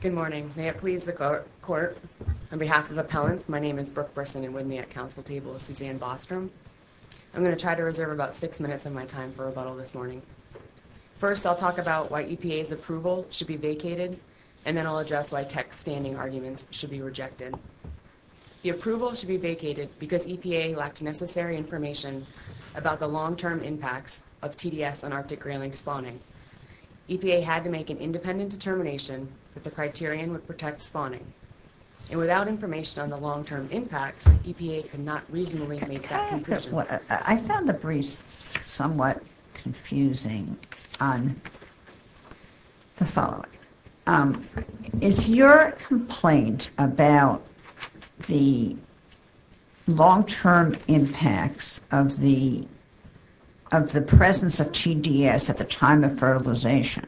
Good morning. May it please the court, on behalf of appellants, my name is Brooke Burson and with me at council table is Suzanne Bostrom. I'm going to try to reserve about six minutes of my time for rebuttal this morning. First I'll talk about why EPA's approval should be vacated and then I'll address why tech standing arguments should be rejected. The approval should be vacated because EPA lacked necessary information about the long-term impacts of TDS on Arctic independent determination that the criterion would protect spawning and without information on the long-term impacts, EPA could not reasonably make that conclusion. I found a brief somewhat confusing on the following. It's your complaint about the long-term impacts of the of the presence of TDS at the time of fertilization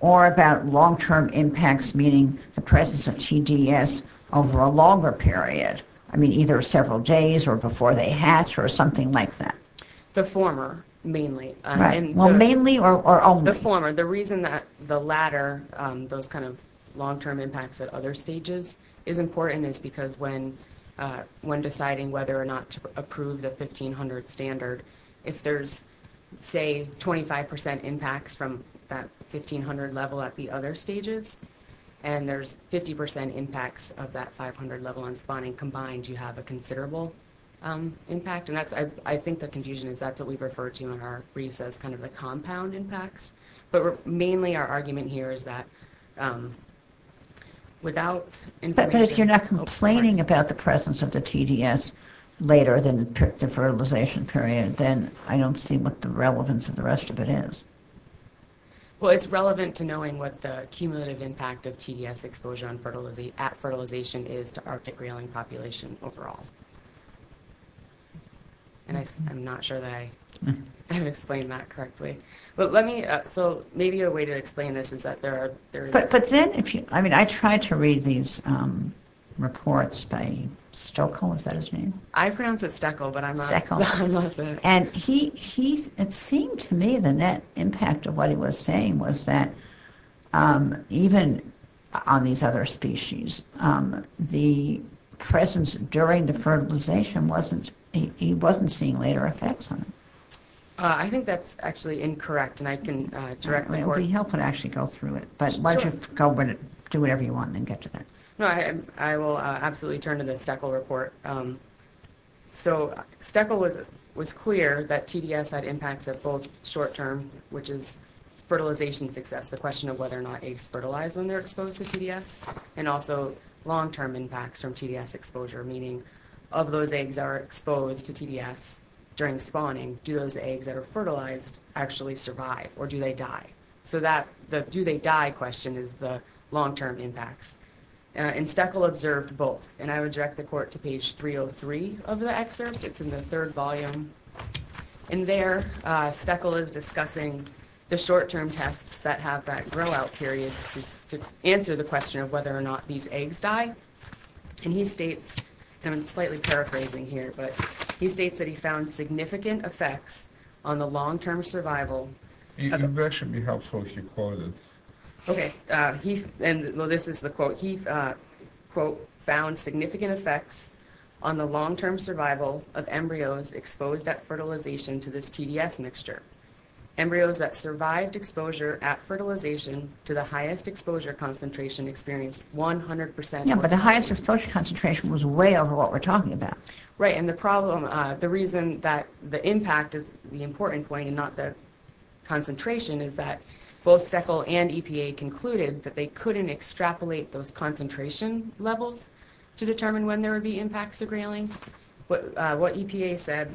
or about long-term impacts meaning the presence of TDS over a longer period, I mean either several days or before they hatch or something like that. The former, mainly. Well mainly or only? The former. The reason that the latter, those kind of long-term impacts at other stages, is important is because when when deciding whether or not to approve the 1500 standard, if there's say 25% impacts from that 1500 level at the other stages and there's 50% impacts of that 500 level on spawning combined, you have a considerable impact and that's I think the confusion is that's what we refer to in our briefs as kind of the compound impacts. But mainly our argument here is that without... But if you're not complaining about the presence of the TDS later than the fertilization period then I don't see what the relevance of the rest of it is. Well it's relevant to knowing what the cumulative impact of TDS exposure at fertilization is to Arctic reeling population overall. And I'm not sure that I explained that correctly. But let me, so maybe a way to explain this is that there are... But then if you, I mean I tried to read these reports by Stoeckl, is that his name? I have that. And he, it seemed to me the net impact of what he was saying was that even on these other species, the presence during the fertilization wasn't, he wasn't seeing later effects on it. I think that's actually incorrect and I can directly... We'll be helping to actually go through it. But why don't you go and do whatever you want and get to that. No I will absolutely turn to the Stoeckl report. So Stoeckl was clear that TDS had impacts at both short-term, which is fertilization success, the question of whether or not eggs fertilize when they're exposed to TDS. And also long-term impacts from TDS exposure, meaning of those eggs that are exposed to TDS during spawning, do those eggs that are fertilized actually survive or do they die? So that, the do they die question is the long-term impacts. And Stoeckl observed both. And I would direct the court to page 303 of the excerpt. It's in the third volume. In there, Stoeckl is discussing the short-term tests that have that grow-out period to answer the question of whether or not these eggs die. And he states, and I'm slightly paraphrasing here, but he states that he found significant effects on the long-term survival... You mentioned the health social quotients. Okay, he, and this is the quote, found significant effects on the long-term survival of embryos exposed at fertilization to this TDS mixture. Embryos that survived exposure at fertilization to the highest exposure concentration experienced 100%. Yeah, but the highest exposure concentration was way over what we're talking about. Right, and the problem, the reason that the impact is the important point and not the concentration, is that both Stoeckl and EPA concluded that they couldn't extrapolate those concentration levels to determine when there would be impacts of grayling. What EPA said,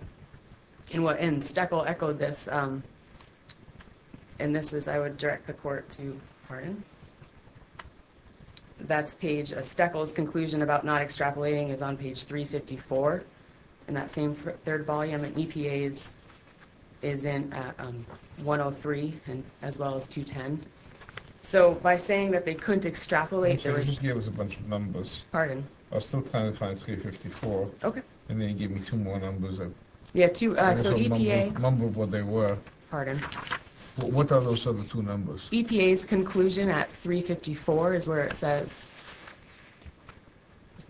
and Stoeckl echoed this, and this is, I would direct the court to, pardon, that's page... Stoeckl's conclusion about not extrapolating is on page 354 in that same third volume. And EPA's is in 103 and as well as 210. So by saying that they couldn't extrapolate... Just give us a bunch of numbers. Pardon. I was still trying to find 354. Okay. And then you gave me two more numbers. Yeah, two, so EPA... Remember what they were. Pardon. What are those other two numbers? EPA's conclusion at 354 is where it says,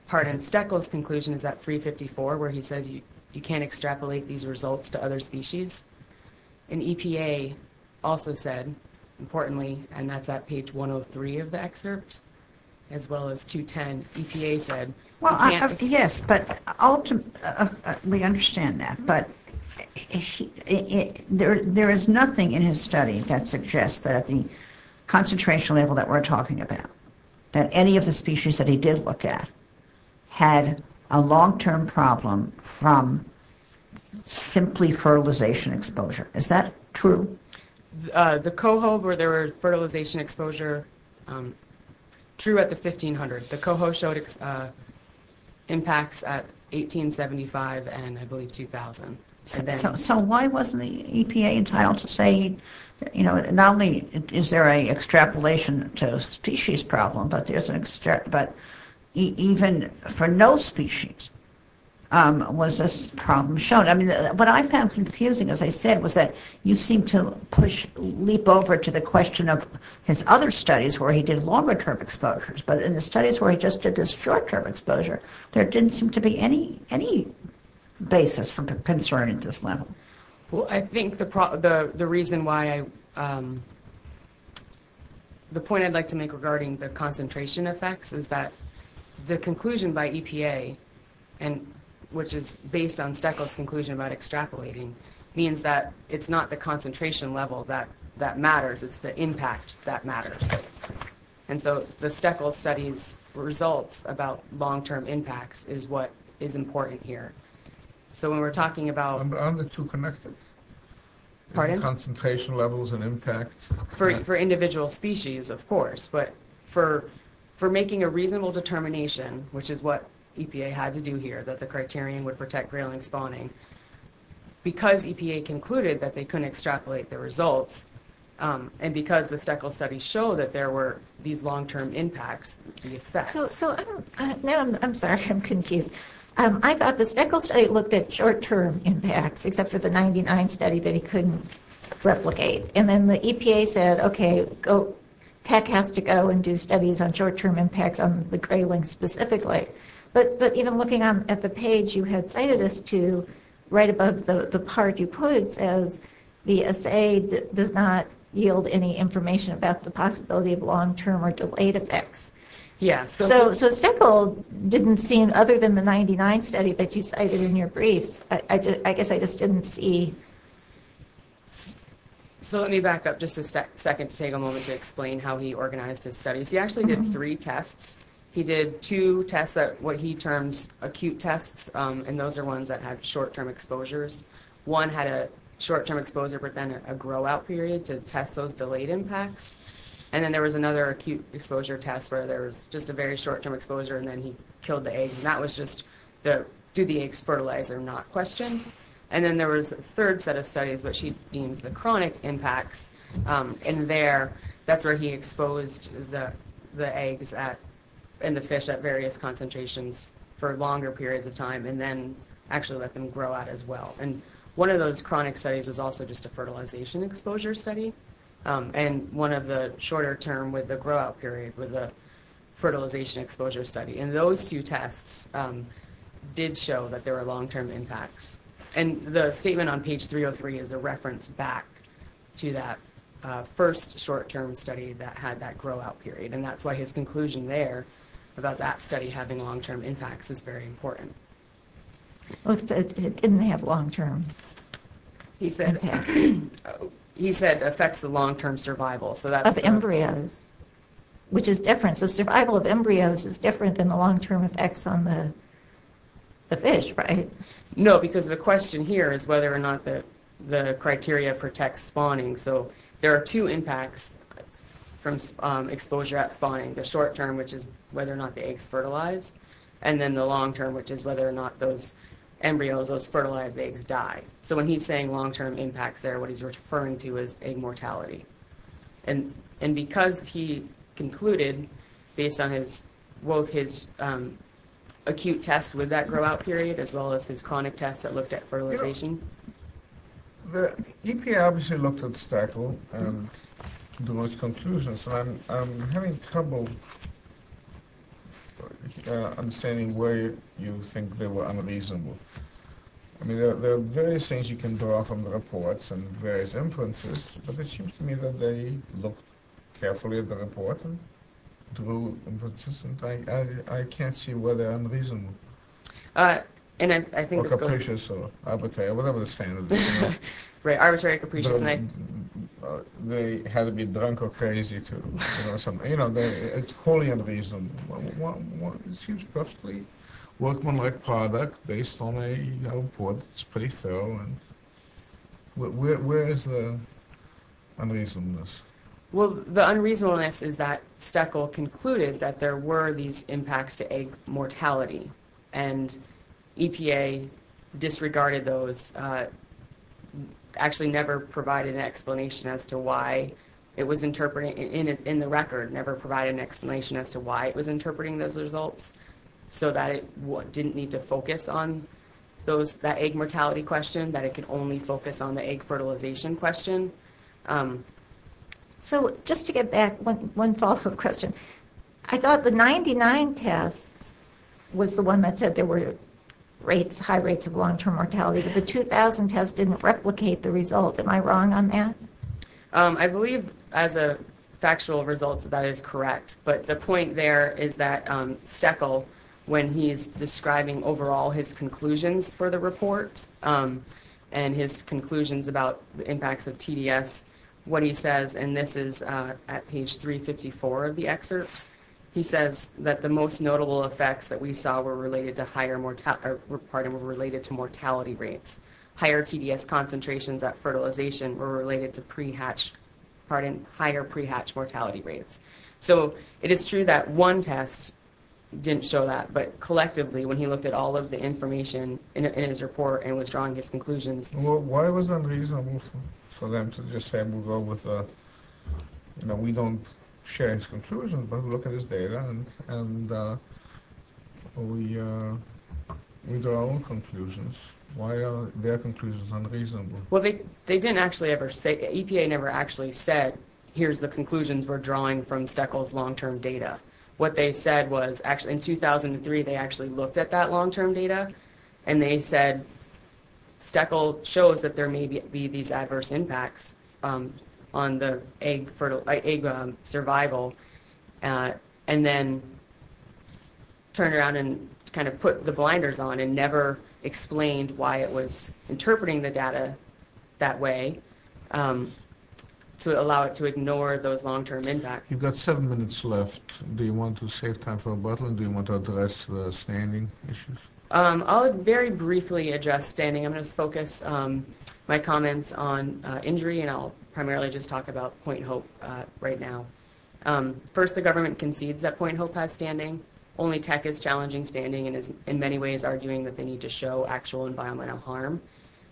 pardon, Stoeckl's conclusion is at 354, where he says you can't extrapolate these results to other species. And EPA also said, importantly, and that's at page 103 of the excerpt, as well as 210, EPA said... Well, yes, but ultimately, we understand that, but there is nothing in his study that suggests that at the concentration level that we're talking about, that any of the species that he did look at had a long-term problem from simply fertilization exposure. Is that true? The coho, where there were fertilization exposure, true at the 1500. The coho showed impacts at 1875 and I believe 2000. So why wasn't the EPA entitled to say, you know, not only is there a extrapolation to species problem, but there's an... but even for no species was this problem shown. I mean, what I found confusing, as I said, was that you seem to push, leap over to the question of his other studies where he did longer-term exposures, but in the studies where he just did this short-term exposure, there didn't seem to be any basis for concern at this level. Well, I think the reason why I... the point I'd like to make regarding the EPA, and which is based on Steckel's conclusion about extrapolating, means that it's not the concentration level that that matters, it's the impact that matters. And so the Steckel study's results about long-term impacts is what is important here. So when we're talking about... On the two connected. Pardon? Concentration levels and impacts. For individual species, of course, but for making a reasonable determination, which is what EPA had to do here, that the criterion would protect grayling spawning, because EPA concluded that they couldn't extrapolate the results, and because the Steckel study showed that there were these long-term impacts, the effect... So... I'm sorry, I'm confused. I thought the Steckel study looked at short-term impacts, except for the 99 study that he couldn't replicate. And then the EPA said, okay, go... TEC has to go and do studies on short-term impacts on the grayling specifically. But, you know, looking at the page you had cited us to, right above the part you put, it says, the assay does not yield any information about the possibility of long-term or delayed effects. Yes. So Steckel didn't see, other than the 99 study that you cited in your briefs, I guess I just didn't see... So let me back up just a second to take a moment to explain how he organized his studies. He actually did three tests. He did two tests, what he terms acute tests, and those are ones that had short-term exposures. One had a short-term exposure, but then a grow-out period to test those delayed impacts. And then there was another acute exposure test, where there was just a very short-term exposure, and then he killed the eggs. And that was just the, do the eggs fertilize or not question. And then there was a third set of studies, which he deems the chronic impacts. And there, that's where he exposed the eggs and the fish at various concentrations for longer periods of time, and then actually let them grow out as well. And one of those chronic studies was also just a fertilization exposure study. And one of the shorter term, with the grow-out period, was a fertilization exposure study. And those two tests did show that there were long-term impacts. And the study that had that grow-out period. And that's why his conclusion there, about that study having long-term impacts, is very important. It didn't have long-term. He said, he said affects the long-term survival. So that's embryos, which is different. So survival of embryos is different than the long-term effects on the fish, right? No, because the question here is whether or not that the two impacts from exposure at spawning, the short-term, which is whether or not the eggs fertilize, and then the long-term, which is whether or not those embryos, those fertilized eggs, die. So when he's saying long-term impacts there, what he's referring to is egg mortality. And because he concluded, based on his, both his acute tests with that grow-out period, as well as his chronic tests that looked at fertilization. The EPA obviously looked at the stackle and drew its conclusions. I'm having trouble understanding where you think they were unreasonable. I mean, there are various things you can draw from the reports and various inferences, but it seems to me that they looked carefully at the report and drew inferences, and I can't see where they're unreasonable. And I think this goes to... Or capricious or arbitrary, whatever the standard is. Right, arbitrary, capricious, and I... They had to be drunk or crazy to... You know, it's wholly unreasonable. It seems perfectly workmanlike product based on a report. It's pretty thorough. Where is the unreasonableness? Well, the unreasonableness is that Steckel concluded that there were these impacts to egg mortality. And EPA disregarded those, actually never provided an explanation as to why it was interpreting, in the record, never provided an explanation as to why it was interpreting those results. So that it didn't need to focus on those, that egg mortality question, that it could only focus on the egg fertilization question. So just to get back, one follow-up question. I thought the 99 tests was the one that said there were rates, high rates of long-term mortality, but the 2000 test didn't replicate the result. Am I wrong on that? I believe, as a factual result, that is correct. But the point there is that Steckel, when he's describing overall his conclusions for the report, and his conclusions about the impacts of TDS, what he says, and this is at page 354 of the excerpt, he says that the most notable effects that we saw were related to mortality rates. Higher TDS concentrations at fertilization were related to higher pre-hatch mortality rates. So it is true that one test didn't show that, but collectively, when he looked at all of the information in his report and was drawing his conclusions... Why was it unreasonable for them to just say, we don't share his conclusions, but look at his data, and we draw our own conclusions? Why are their conclusions unreasonable? Well, they didn't actually ever say... EPA never actually said, here's the conclusions we're drawing from Steckel's long-term data. What they said was, in 2003, they actually looked at that long-term data, and they said, Steckel shows that there may be these adverse impacts on the egg survival, and then turned around and kind of put the blinders on and never explained why it was interpreting the data. That way, to allow it to ignore those long-term impacts. You've got seven minutes left. Do you want to save time for rebuttal? Do you want to address standing issues? I'll very briefly address standing. I'm going to focus my comments on injury, and I'll primarily just talk about Point Hope right now. First, the government concedes that Point Hope has standing. Only Tech is challenging standing and is in many ways arguing that they need to show actual environmental harm,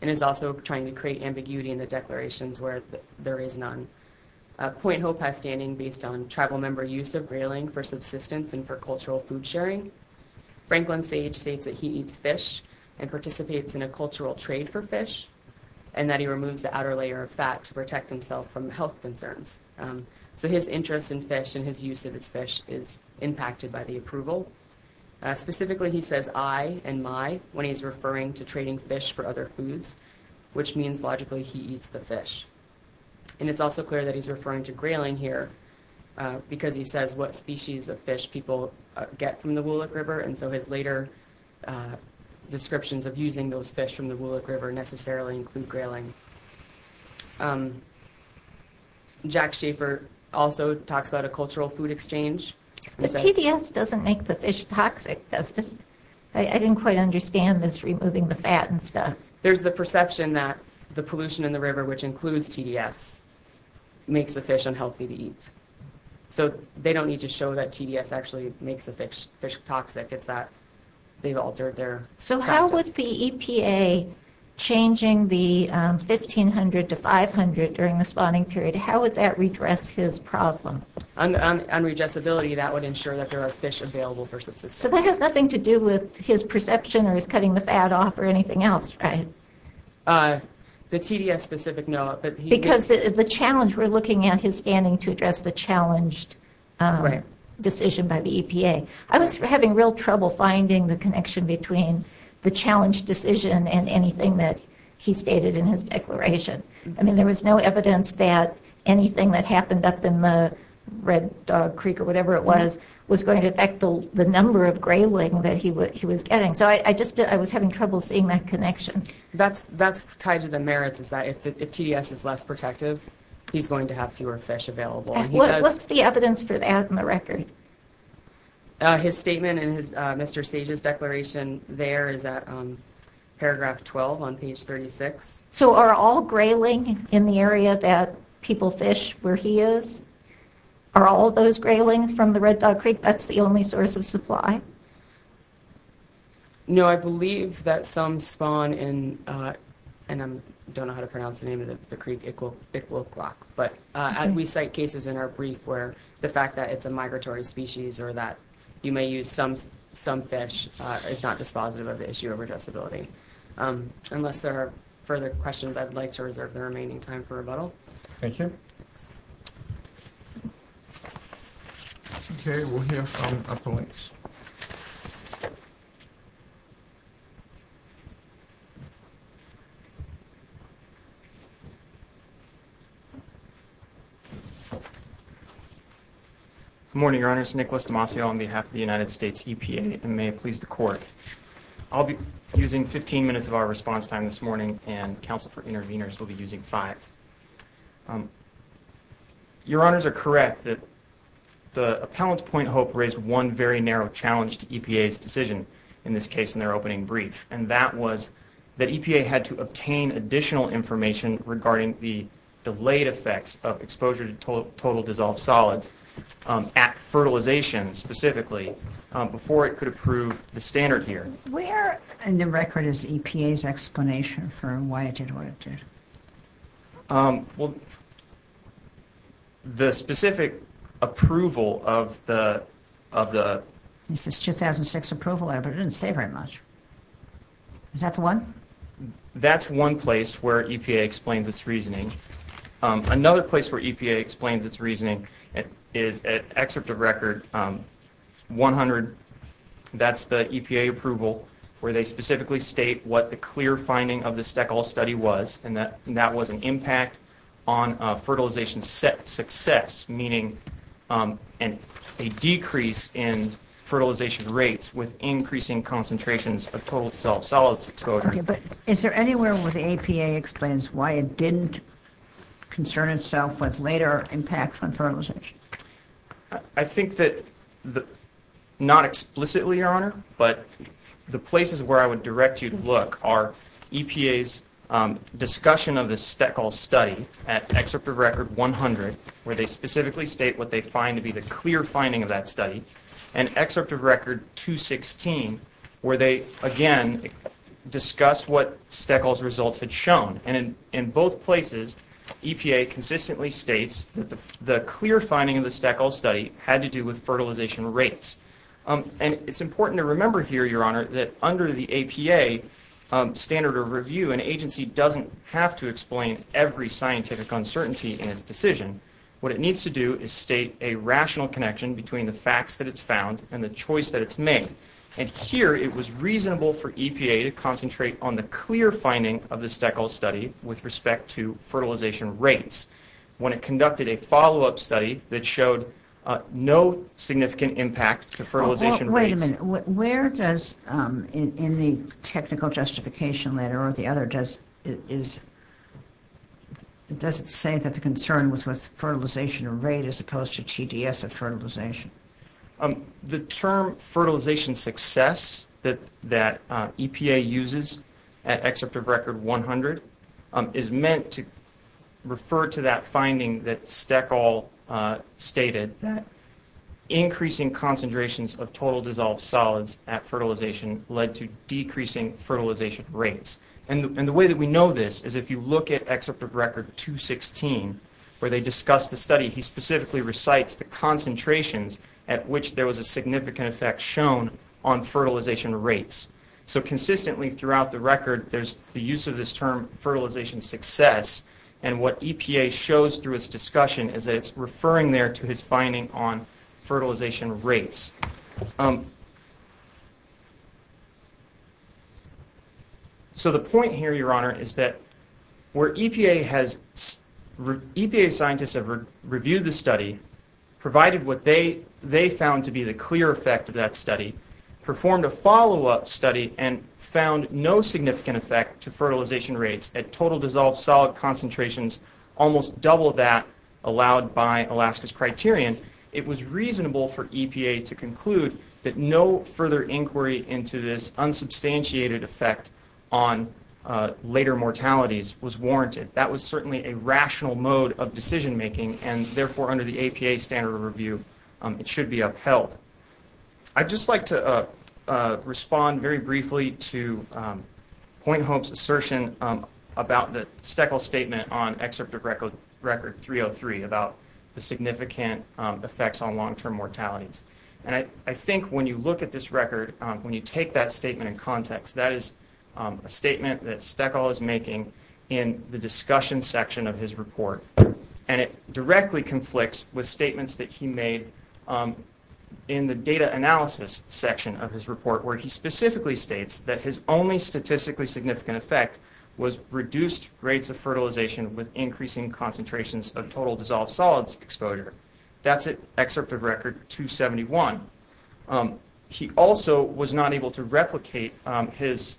and is also trying to create ambiguity in the declarations where there is none. Point Hope has standing based on tribal member use of grayling for subsistence and for cultural food sharing. Franklin Sage states that he eats fish and participates in a cultural trade for fish, and that he removes the outer layer of fat to protect himself from health concerns. His interest in fish and his use of his fish is impacted by the approval. Specifically, he says, I and my, when he's referring to trading fish for other foods, which means logically he eats the fish. It's also clear that he's referring to grayling here, because he says what species of fish people get from the Woolock River, and so his later descriptions of using those fish from the Woolock River necessarily include grayling. Jack Schaefer also talks about a cultural food exchange. The TDS doesn't make the fish toxic, does it? I didn't quite understand this removing the fat and stuff. There's the perception that the pollution in the river, which includes TDS, makes the fish unhealthy to eat. So they don't need to show that TDS actually makes the fish toxic. It's that they've altered their practice. So how was the EPA changing the 1500 to 500 during the spawning period? How would that redress his problem? On readjustability, that would ensure that there are fish available for subsistence. So that has nothing to do with his perception, or his cutting the fat off, or anything else, right? The TDS specific, no. Because the challenge, we're looking at his standing to address the challenged decision by the EPA. I was having real trouble finding the connection between the challenged decision and anything that he stated in his declaration. I mean, there was no evidence that anything that happened up in the Red Dog Creek, or whatever it was, was going to affect the number of grayling that he was getting. So I was having trouble seeing that connection. That's tied to the merits, is that if TDS is less protective, he's going to have fewer fish available. What's the evidence for that in the record? His statement in Mr. Sage's declaration there is at paragraph 12 on page 36. So are all grayling in the area that people fish where he is, are all those grayling from the Red Dog Creek? That's the only source of supply? No, I believe that some spawn in, and I don't know how to pronounce the name of the creek, Iqalocloc. But we cite cases in our brief where the fact that it's a migratory species, or that you may use some fish is not dispositive of the issue of addressability. Unless there are further questions, I'd like to reserve the remaining time for rebuttal. Thank you. Thank you. Okay, we'll hear from our colleagues. Good morning, Your Honors. Nicholas Demasio on behalf of the United States EPA, and may it please the Court. I'll be using 15 minutes of our response time this morning, and counsel for interveners will be using five. Your Honors are correct that the appellant's point of hope raised one very narrow challenge to EPA's decision, in this case in their opening brief, and that was that EPA had to obtain additional information regarding the delayed effects of exposure to total dissolved solids at fertilization specifically before it could approve the standard here. Where in the record is EPA's explanation for why it did what it did? Well, the specific approval of the – It says 2006 approval, but it didn't say very much. Is that the one? That's one place where EPA explains its reasoning. Another place where EPA explains its reasoning is an excerpt of record 100. That's the EPA approval where they specifically state what the clear finding of the Stekhol study was, and that was an impact on fertilization success, meaning a decrease in fertilization rates with increasing concentrations of total dissolved solids exposure. Okay, but is there anywhere where the EPA explains why it didn't concern itself with later impacts on fertilization? I think that not explicitly, Your Honor, but the places where I would direct you to look are EPA's discussion of the Stekhol study at excerpt of record 100, where they specifically state what they find to be the clear finding of that study, and excerpt of record 216, where they, again, discuss what Stekhol's results had shown. And in both places, EPA consistently states that the clear finding of the Stekhol study had to do with fertilization rates. And it's important to remember here, Your Honor, that under the EPA standard of review, an agency doesn't have to explain every scientific uncertainty in its decision. What it needs to do is state a rational connection between the facts that it's found and the choice that it's made. And here, it was reasonable for EPA to concentrate on the clear finding of the Stekhol study with respect to fertilization rates when it conducted a follow-up study that showed no significant impact to fertilization rates. And where does, in the technical justification letter or the other, does it say that the concern was with fertilization rate as opposed to TDS of fertilization? The term fertilization success that EPA uses at excerpt of record 100 is meant to refer to that finding that Stekhol stated, that increasing concentrations of total dissolved solids at fertilization led to decreasing fertilization rates. And the way that we know this is if you look at excerpt of record 216, where they discuss the study, he specifically recites the concentrations at which there was a significant effect shown on fertilization rates. So consistently throughout the record, there's the use of this term fertilization success. And what EPA shows through its discussion is that it's referring there to his finding on fertilization rates. So the point here, Your Honor, is that where EPA has... EPA scientists have reviewed the study, provided what they found to be the clear effect of that study, performed a follow-up study, and found no significant effect to fertilization rates at total dissolved solid concentrations, almost double that allowed by Alaska's criterion, it was reasonable for EPA to conclude that no further inquiry into this unsubstantiated effect on later mortalities was warranted. That was certainly a rational mode of decision-making, and therefore under the EPA standard of review, it should be upheld. I'd just like to respond very briefly to Point Hope's assertion about the Steckle statement on excerpt of record 303, about the significant effects on long-term mortalities. And I think when you look at this record, when you take that statement in context, that is a statement that Steckle is making in the discussion section of his report. And it directly conflicts with statements that he made in the data analysis section of his report, where he specifically states that his only statistically significant effect was reduced rates of fertilization with increasing concentrations of total dissolved solids exposure. That's at excerpt of record 271. He also was not able to replicate this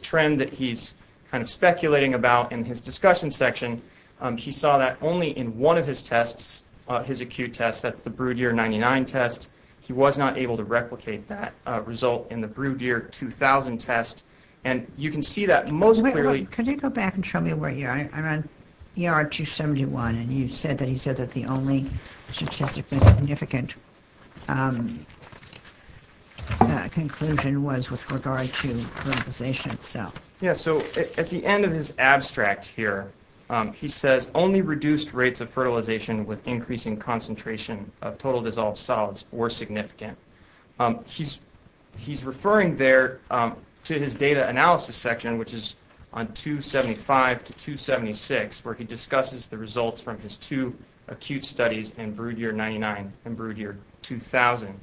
trend that he's kind of speculating about in his discussion section. He saw that only in one of his tests, his acute test. That's the Brood Year 99 test. He was not able to replicate that result in the Brood Year 2000 test. And you can see that most clearly. Could you go back and show me where you are? I'm on ER 271, and you said that he said that the only statistically significant conclusion was with regard to fertilization itself. Yeah, so at the end of his abstract here, he says, only reduced rates of fertilization with increasing concentration of total dissolved solids were significant. He's referring there to his data analysis section, which is on 275 to 276, where he discusses the results from his two acute studies in Brood Year 99 and Brood Year 2000.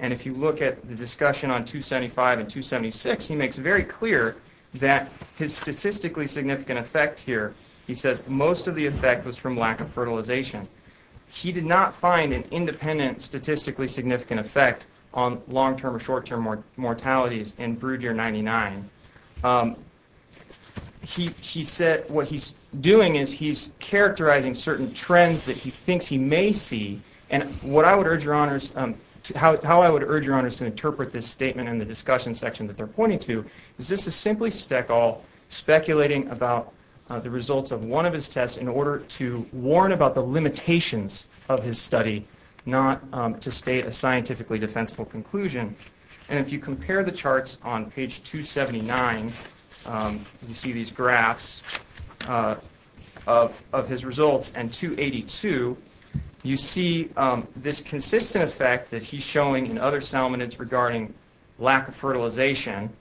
And if you look at the discussion on 275 and 276, he makes it very clear that his statistically significant effect here, he says most of the effect was from lack of fertilization. He did not find an independent statistically significant effect on long-term or short-term mortalities in Brood Year 99. He said what he's doing is he's characterizing certain trends that he thinks he may see. And how I would urge your honors to interpret this statement in the discussion section that they're pointing to, is this is simply Steckel speculating about the results of one of his tests in order to warn about the limitations of his study, not to state a scientifically defensible conclusion. And if you compare the charts on page 279, you see these graphs of his results, you see this consistent effect that he's showing in other salmonids regarding lack of fertilization, and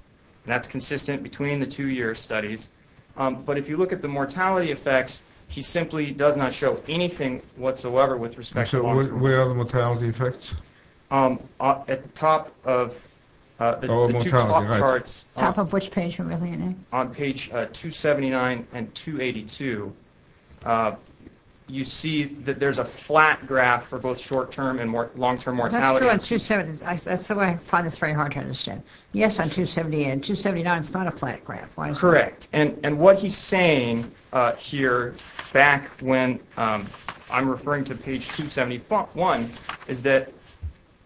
that's consistent between the two year studies. But if you look at the mortality effects, he simply does not show anything whatsoever with respect to long-term. So where are the mortality effects? At the top of the two top charts. Top of which page are we looking at? On page 279 and 282, you see that there's a flat graph for both short-term and long-term mortality. That's true on 279. That's why I find this very hard to understand. Yes, on 278. On 279, it's not a flat graph. Correct. And what he's saying here, back when I'm referring to page 271, is that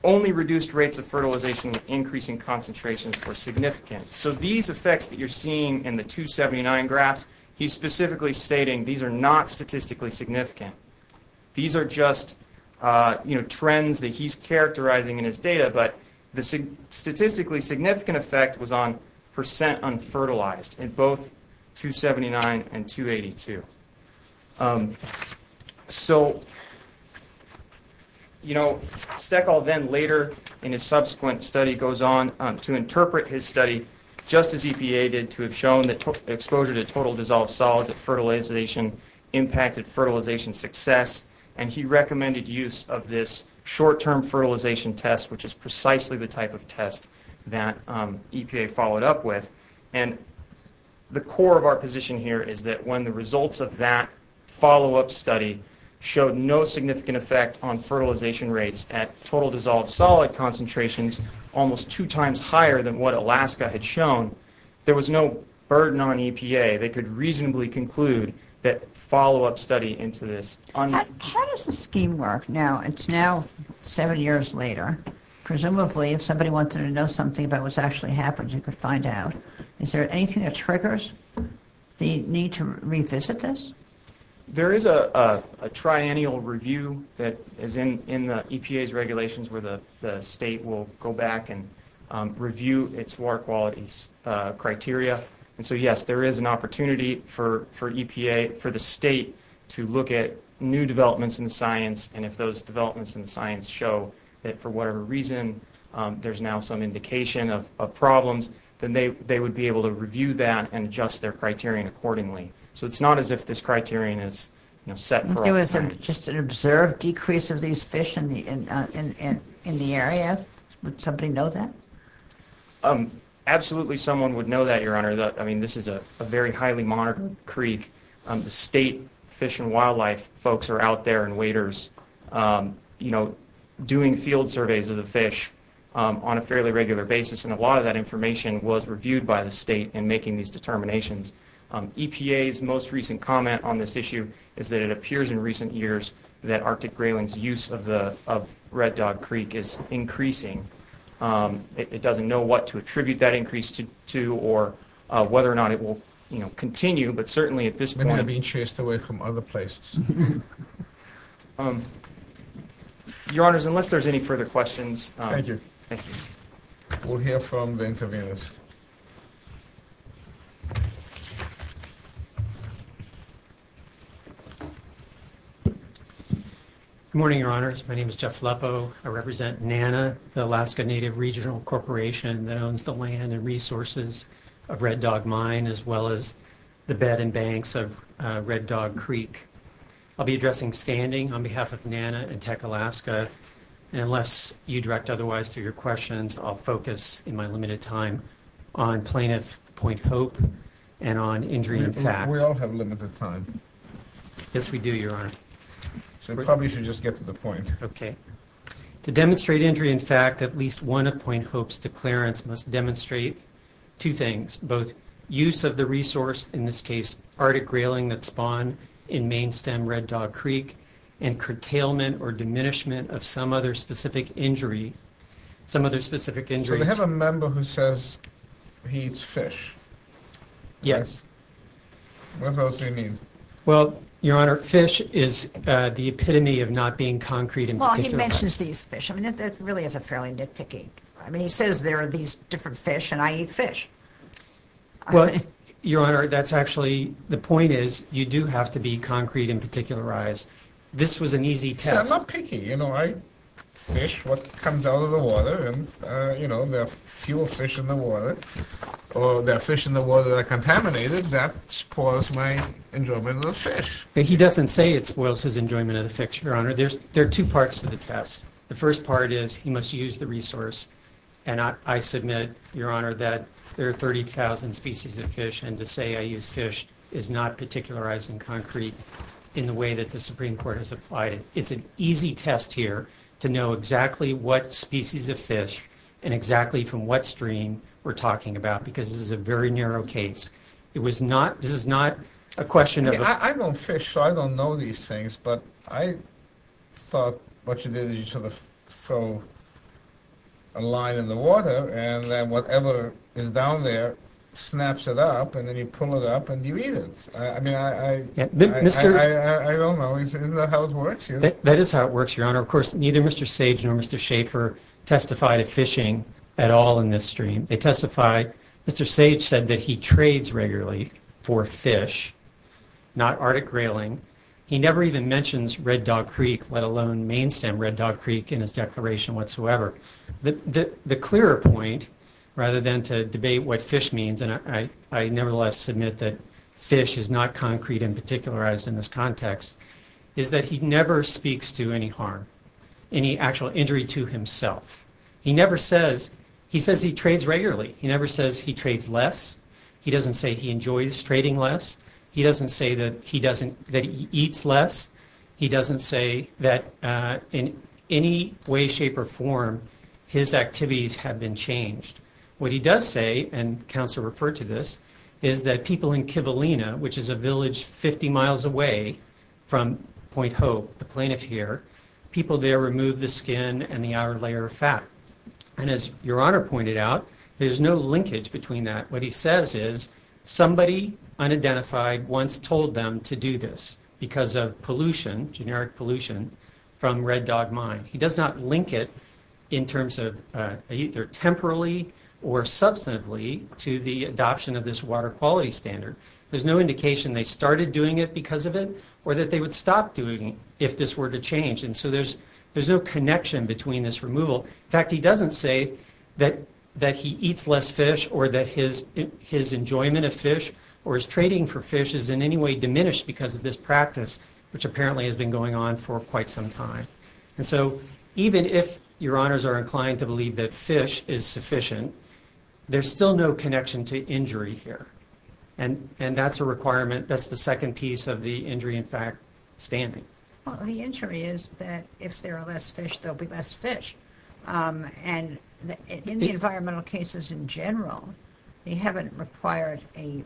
only reduced rates of fertilization with increasing concentrations were significant. So these effects that you're seeing in the 279 graphs, he's specifically stating these are not statistically significant. These are just trends that he's characterizing in his data, but the statistically significant effect was on percent unfertilized in both 279 and 282. So, you know, Steckel then later in his subsequent study goes on to interpret his study just as EPA did to have shown that exposure to total dissolved solids at fertilization impacted fertilization success, and he recommended use of this short-term fertilization test, which is precisely the type of test that EPA followed up with. And the core of our position here is that when the results of that follow-up study showed no significant effect on fertilization rates at total dissolved solid concentrations, almost two times higher than what Alaska had shown, there was no burden on EPA. They could reasonably conclude that follow-up study into this. How does this scheme work now? It's now seven years later. Presumably if somebody wanted to know something about what's actually happened, you could find out. Is there anything that triggers the need to revisit this? There is a triennial review that is in the EPA's regulations where the state will go back and review its water quality criteria. And so, yes, there is an opportunity for EPA, for the state to look at new developments in science and if those developments in science show that for whatever reason there's now some indication of problems, then they would be able to review that and adjust their criterion accordingly. So it's not as if this criterion is set for all time. If there was just an observed decrease of these fish in the area, would somebody know that? Absolutely someone would know that, Your Honor. I mean, this is a very highly monitored creek. The state Fish and Wildlife folks are out there and waiters, you know, doing field surveys of the fish on a fairly regular basis, and a lot of that information was reviewed by the state in making these determinations. EPA's most recent comment on this issue is that it appears in recent years that Arctic grayling's use of Red Dog Creek is increasing. It doesn't know what to attribute that increase to or whether or not it will continue, but certainly at this point— It may have been chased away from other places. Your Honors, unless there's any further questions— Thank you. Thank you. We'll hear from the intervenors. Good morning, Your Honors. My name is Jeff Leppo. I represent NANA, the Alaska Native Regional Corporation that owns the land and resources of Red Dog Mine as well as the bed and banks of Red Dog Creek. I'll be addressing standing on behalf of NANA and Tech Alaska, and unless you direct otherwise through your questions, I'll focus in my limited time on plaintiff Point Hope and on injury in fact. We all have limited time. Yes, we do, Your Honor. So we probably should just get to the point. Okay. To demonstrate injury in fact, at least one of Point Hope's declarants must demonstrate two things, both use of the resource, in this case arctic grayling that spawned in main stem Red Dog Creek, and curtailment or diminishment of some other specific injury, some other specific injury— So we have a member who says he eats fish. Yes. What else do you mean? Well, Your Honor, fish is the epitome of not being concrete in particular— Well, he mentions he eats fish. I mean, that really is a fairly nitpicky— I mean, he says there are these different fish, and I eat fish. Well, Your Honor, that's actually—the point is you do have to be concrete and particularized. This was an easy test— See, I'm not picky. You know, I fish what comes out of the water, and, you know, there are fewer fish in the water, or there are fish in the water that are contaminated. That spoils my enjoyment of the fish. He doesn't say it spoils his enjoyment of the fish, Your Honor. There are two parts to the test. The first part is he must use the resource, and I submit, Your Honor, that there are 30,000 species of fish, and to say I use fish is not particularizing concrete in the way that the Supreme Court has applied it. It's an easy test here to know exactly what species of fish and exactly from what stream we're talking about because this is a very narrow case. It was not—this is not a question of— I don't fish, so I don't know these things, but I thought what you did is you sort of throw a line in the water and then whatever is down there snaps it up, and then you pull it up, and you eat it. I mean, I don't know. Isn't that how it works here? That is how it works, Your Honor. Of course, neither Mr. Sage nor Mr. Schaefer testified of fishing at all in this stream. They testified—Mr. Sage said that he trades regularly for fish, not Arctic grayling. He never even mentions Red Dog Creek, let alone main stem Red Dog Creek in his declaration whatsoever. The clearer point, rather than to debate what fish means, and I nevertheless submit that fish is not concrete and particularized in this context, is that he never speaks to any harm, any actual injury to himself. He never says—he says he trades regularly. He never says he trades less. He doesn't say he enjoys trading less. He doesn't say that he eats less. He doesn't say that in any way, shape, or form his activities have been changed. What he does say, and counsel referred to this, is that people in Kivalina, which is a village 50 miles away from Point Hope, the plaintiff here, people there remove the skin and the outer layer of fat. And as Your Honor pointed out, there's no linkage between that. What he says is somebody unidentified once told them to do this because of pollution, generic pollution, from Red Dog Mine. He does not link it in terms of either temporally or substantively to the adoption of this water quality standard. There's no indication they started doing it because of it or that they would stop doing it if this were to change. And so there's no connection between this removal. In fact, he doesn't say that he eats less fish or that his enjoyment of fish or his trading for fish is in any way diminished because of this practice, which apparently has been going on for quite some time. And so even if Your Honors are inclined to believe that fish is sufficient, there's still no connection to injury here. And that's a requirement. That's the second piece of the injury in fact standing. Well, the injury is that if there are less fish, there will be less fish. And in the environmental cases in general, they haven't required an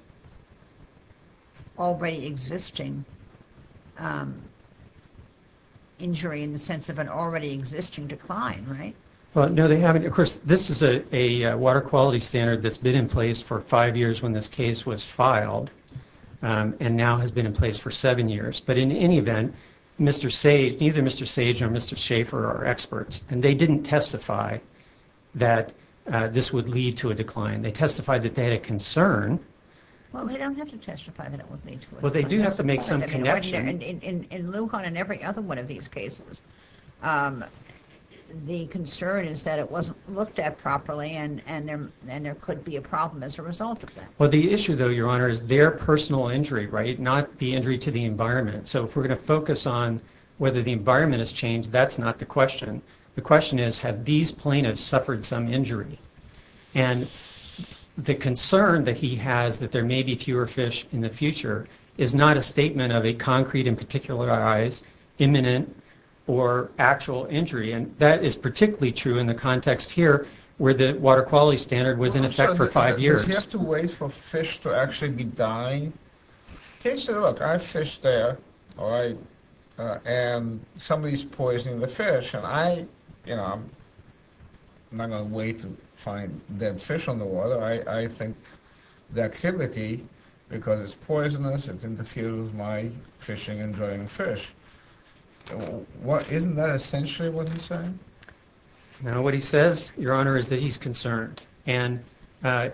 already existing injury in the sense of an already existing decline, right? Well, no, they haven't. Of course, this is a water quality standard that's been in place for five years when this case was filed and now has been in place for seven years. But in any event, neither Mr. Sage nor Mr. Schaefer are experts, and they didn't testify that this would lead to a decline. They testified that they had a concern. Well, they don't have to testify that it would lead to a decline. Well, they do have to make some connection. In Lujan and every other one of these cases, the concern is that it wasn't looked at properly and there could be a problem as a result of that. Well, the issue, though, Your Honor, is their personal injury, right, not the injury to the environment. So if we're going to focus on whether the environment has changed, that's not the question. The question is, have these plaintiffs suffered some injury? And the concern that he has that there may be fewer fish in the future is not a statement of a concrete and particularized imminent or actual injury, and that is particularly true in the context here where the water quality standard was in effect for five years. Does he have to wait for fish to actually be dying? He said, look, I fish there, all right, and somebody's poisoning the fish, and I'm not going to wait to find dead fish on the water. I think the activity, because it's poisonous, it's in the field of my fishing and drying fish. Isn't that essentially what he's saying? No, what he says, Your Honor, is that he's concerned. And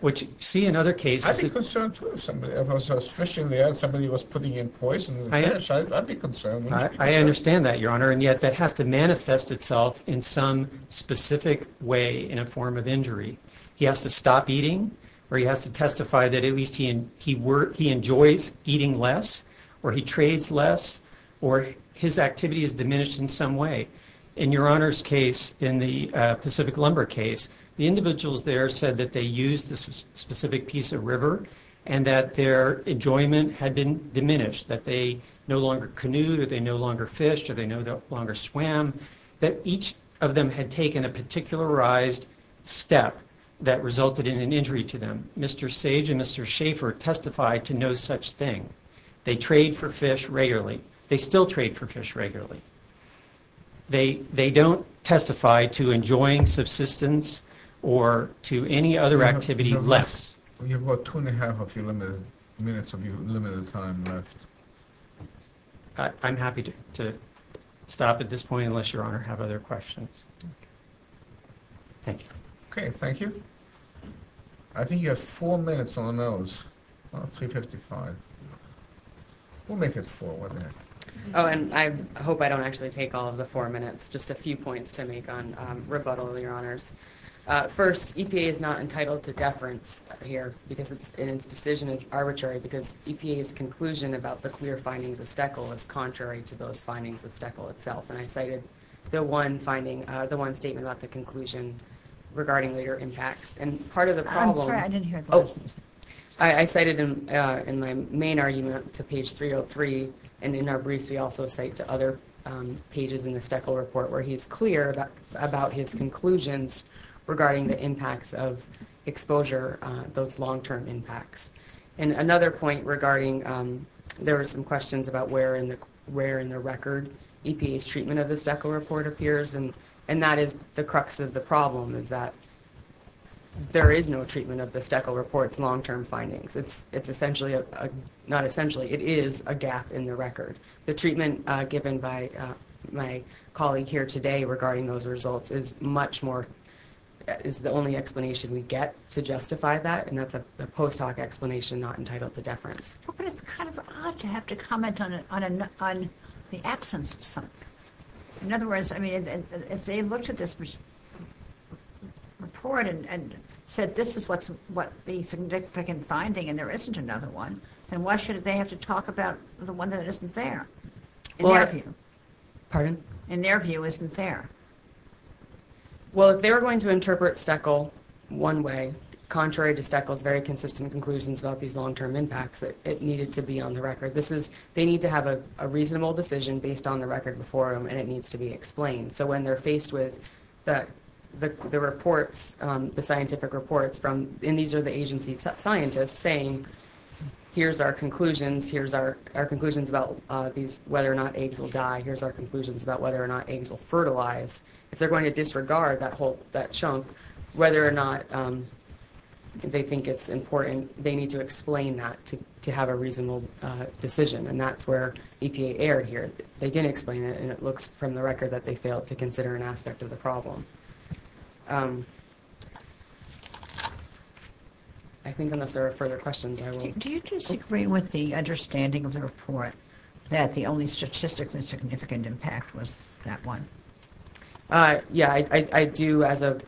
what you see in other cases is... I'd be concerned, too, if I was fishing there and somebody was putting in poison to the fish. I'd be concerned. I understand that, Your Honor, and yet that has to manifest itself in some specific way in a form of injury. He has to stop eating or he has to testify that at least he enjoys eating less or he trades less or his activity has diminished in some way. In Your Honor's case, in the Pacific Lumber case, the individuals there said that they used a specific piece of river and that their enjoyment had been diminished, that they no longer canoed or they no longer fished or they no longer swam, that each of them had taken a particularized step that resulted in an injury to them. Mr. Sage and Mr. Schaefer testified to no such thing. They trade for fish regularly. They still trade for fish regularly. They don't testify to enjoying subsistence or to any other activity less. You've got two and a half minutes of your limited time left. I'm happy to stop at this point unless Your Honor has other questions. Thank you. Okay, thank you. I think you have four minutes on those, about 355. We'll make it four, won't we? Oh, and I hope I don't actually take all of the four minutes, just a few points to make on rebuttal, Your Honors. First, EPA is not entitled to deference here because its decision is arbitrary because EPA's conclusion about the clear findings of STECL is contrary to those findings of STECL itself, and I cited the one statement about the conclusion regarding later impacts. I'm sorry, I didn't hear the question. I cited in my main argument to page 303, and in our briefs we also cite to other pages in the STECL report where he's clear about his conclusions regarding the impacts of exposure, those long-term impacts. And another point regarding there were some questions about where in the record EPA's treatment of the STECL report appears, and that is the crux of the problem, is that there is no treatment of the STECL report's long-term findings. It's essentially a gap in the record. The treatment given by my colleague here today regarding those results is the only explanation we get to justify that, and that's a post-hoc explanation not entitled to deference. But it's kind of odd to have to comment on the absence of something. In other words, if they looked at this report and said this is the significant finding and there isn't another one, then why should they have to talk about the one that isn't there in their view? In their view isn't there. Well, if they were going to interpret STECL one way, contrary to STECL's very consistent conclusions about these long-term impacts, it needed to be on the record. They need to have a reasonable decision based on the record before them, and it needs to be explained. So when they're faced with the reports, the scientific reports, and these are the agency scientists saying here's our conclusions, here's our conclusions about whether or not eggs will die, here's our conclusions about whether or not eggs will fertilize. If they're going to disregard that chunk, whether or not they think it's important, then they need to explain that to have a reasonable decision, and that's where EPA erred here. They didn't explain it, and it looks from the record that they failed to consider an aspect of the problem. I think unless there are further questions, I will. Do you disagree with the understanding of the report that the only statistically significant impact was that one? Yeah, I do as a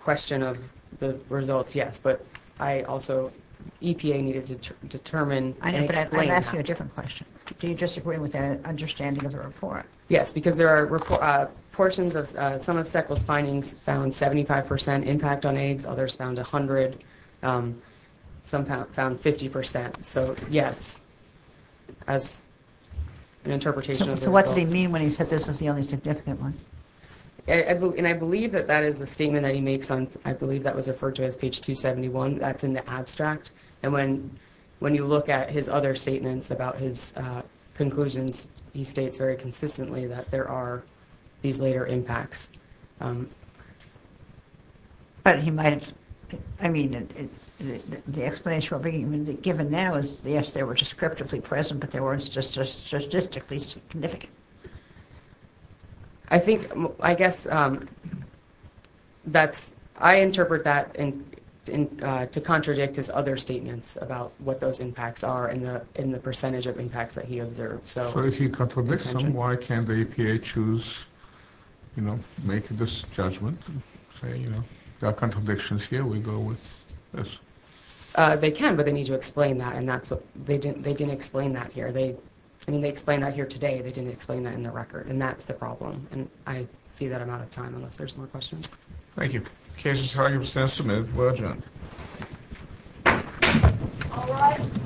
question of the results, yes. But I also – EPA needed to determine and explain that. I know, but I'd ask you a different question. Do you disagree with that understanding of the report? Yes, because there are portions of – some of Sekul's findings found 75 percent impact on eggs, others found 100, some found 50 percent. So yes, as an interpretation of the results. So what did he mean when he said this was the only significant one? And I believe that that is a statement that he makes on – that's in the abstract, and when you look at his other statements about his conclusions, he states very consistently that there are these later impacts. But he might have – I mean, the explanation given now is, yes, they were descriptively present, but they weren't statistically significant. I think – I guess that's – I interpret that to contradict his other statements about what those impacts are and the percentage of impacts that he observed. So if he contradicts them, why can't the EPA choose, you know, make this judgment and say, you know, there are contradictions here, we go with this? They can, but they need to explain that, and that's what – they didn't explain that here. They – I mean, they explained that here today. They didn't explain that in the record, and that's the problem. And I see that I'm out of time unless there's more questions. Thank you. Cases, however, stand submitted. Well done. All rise.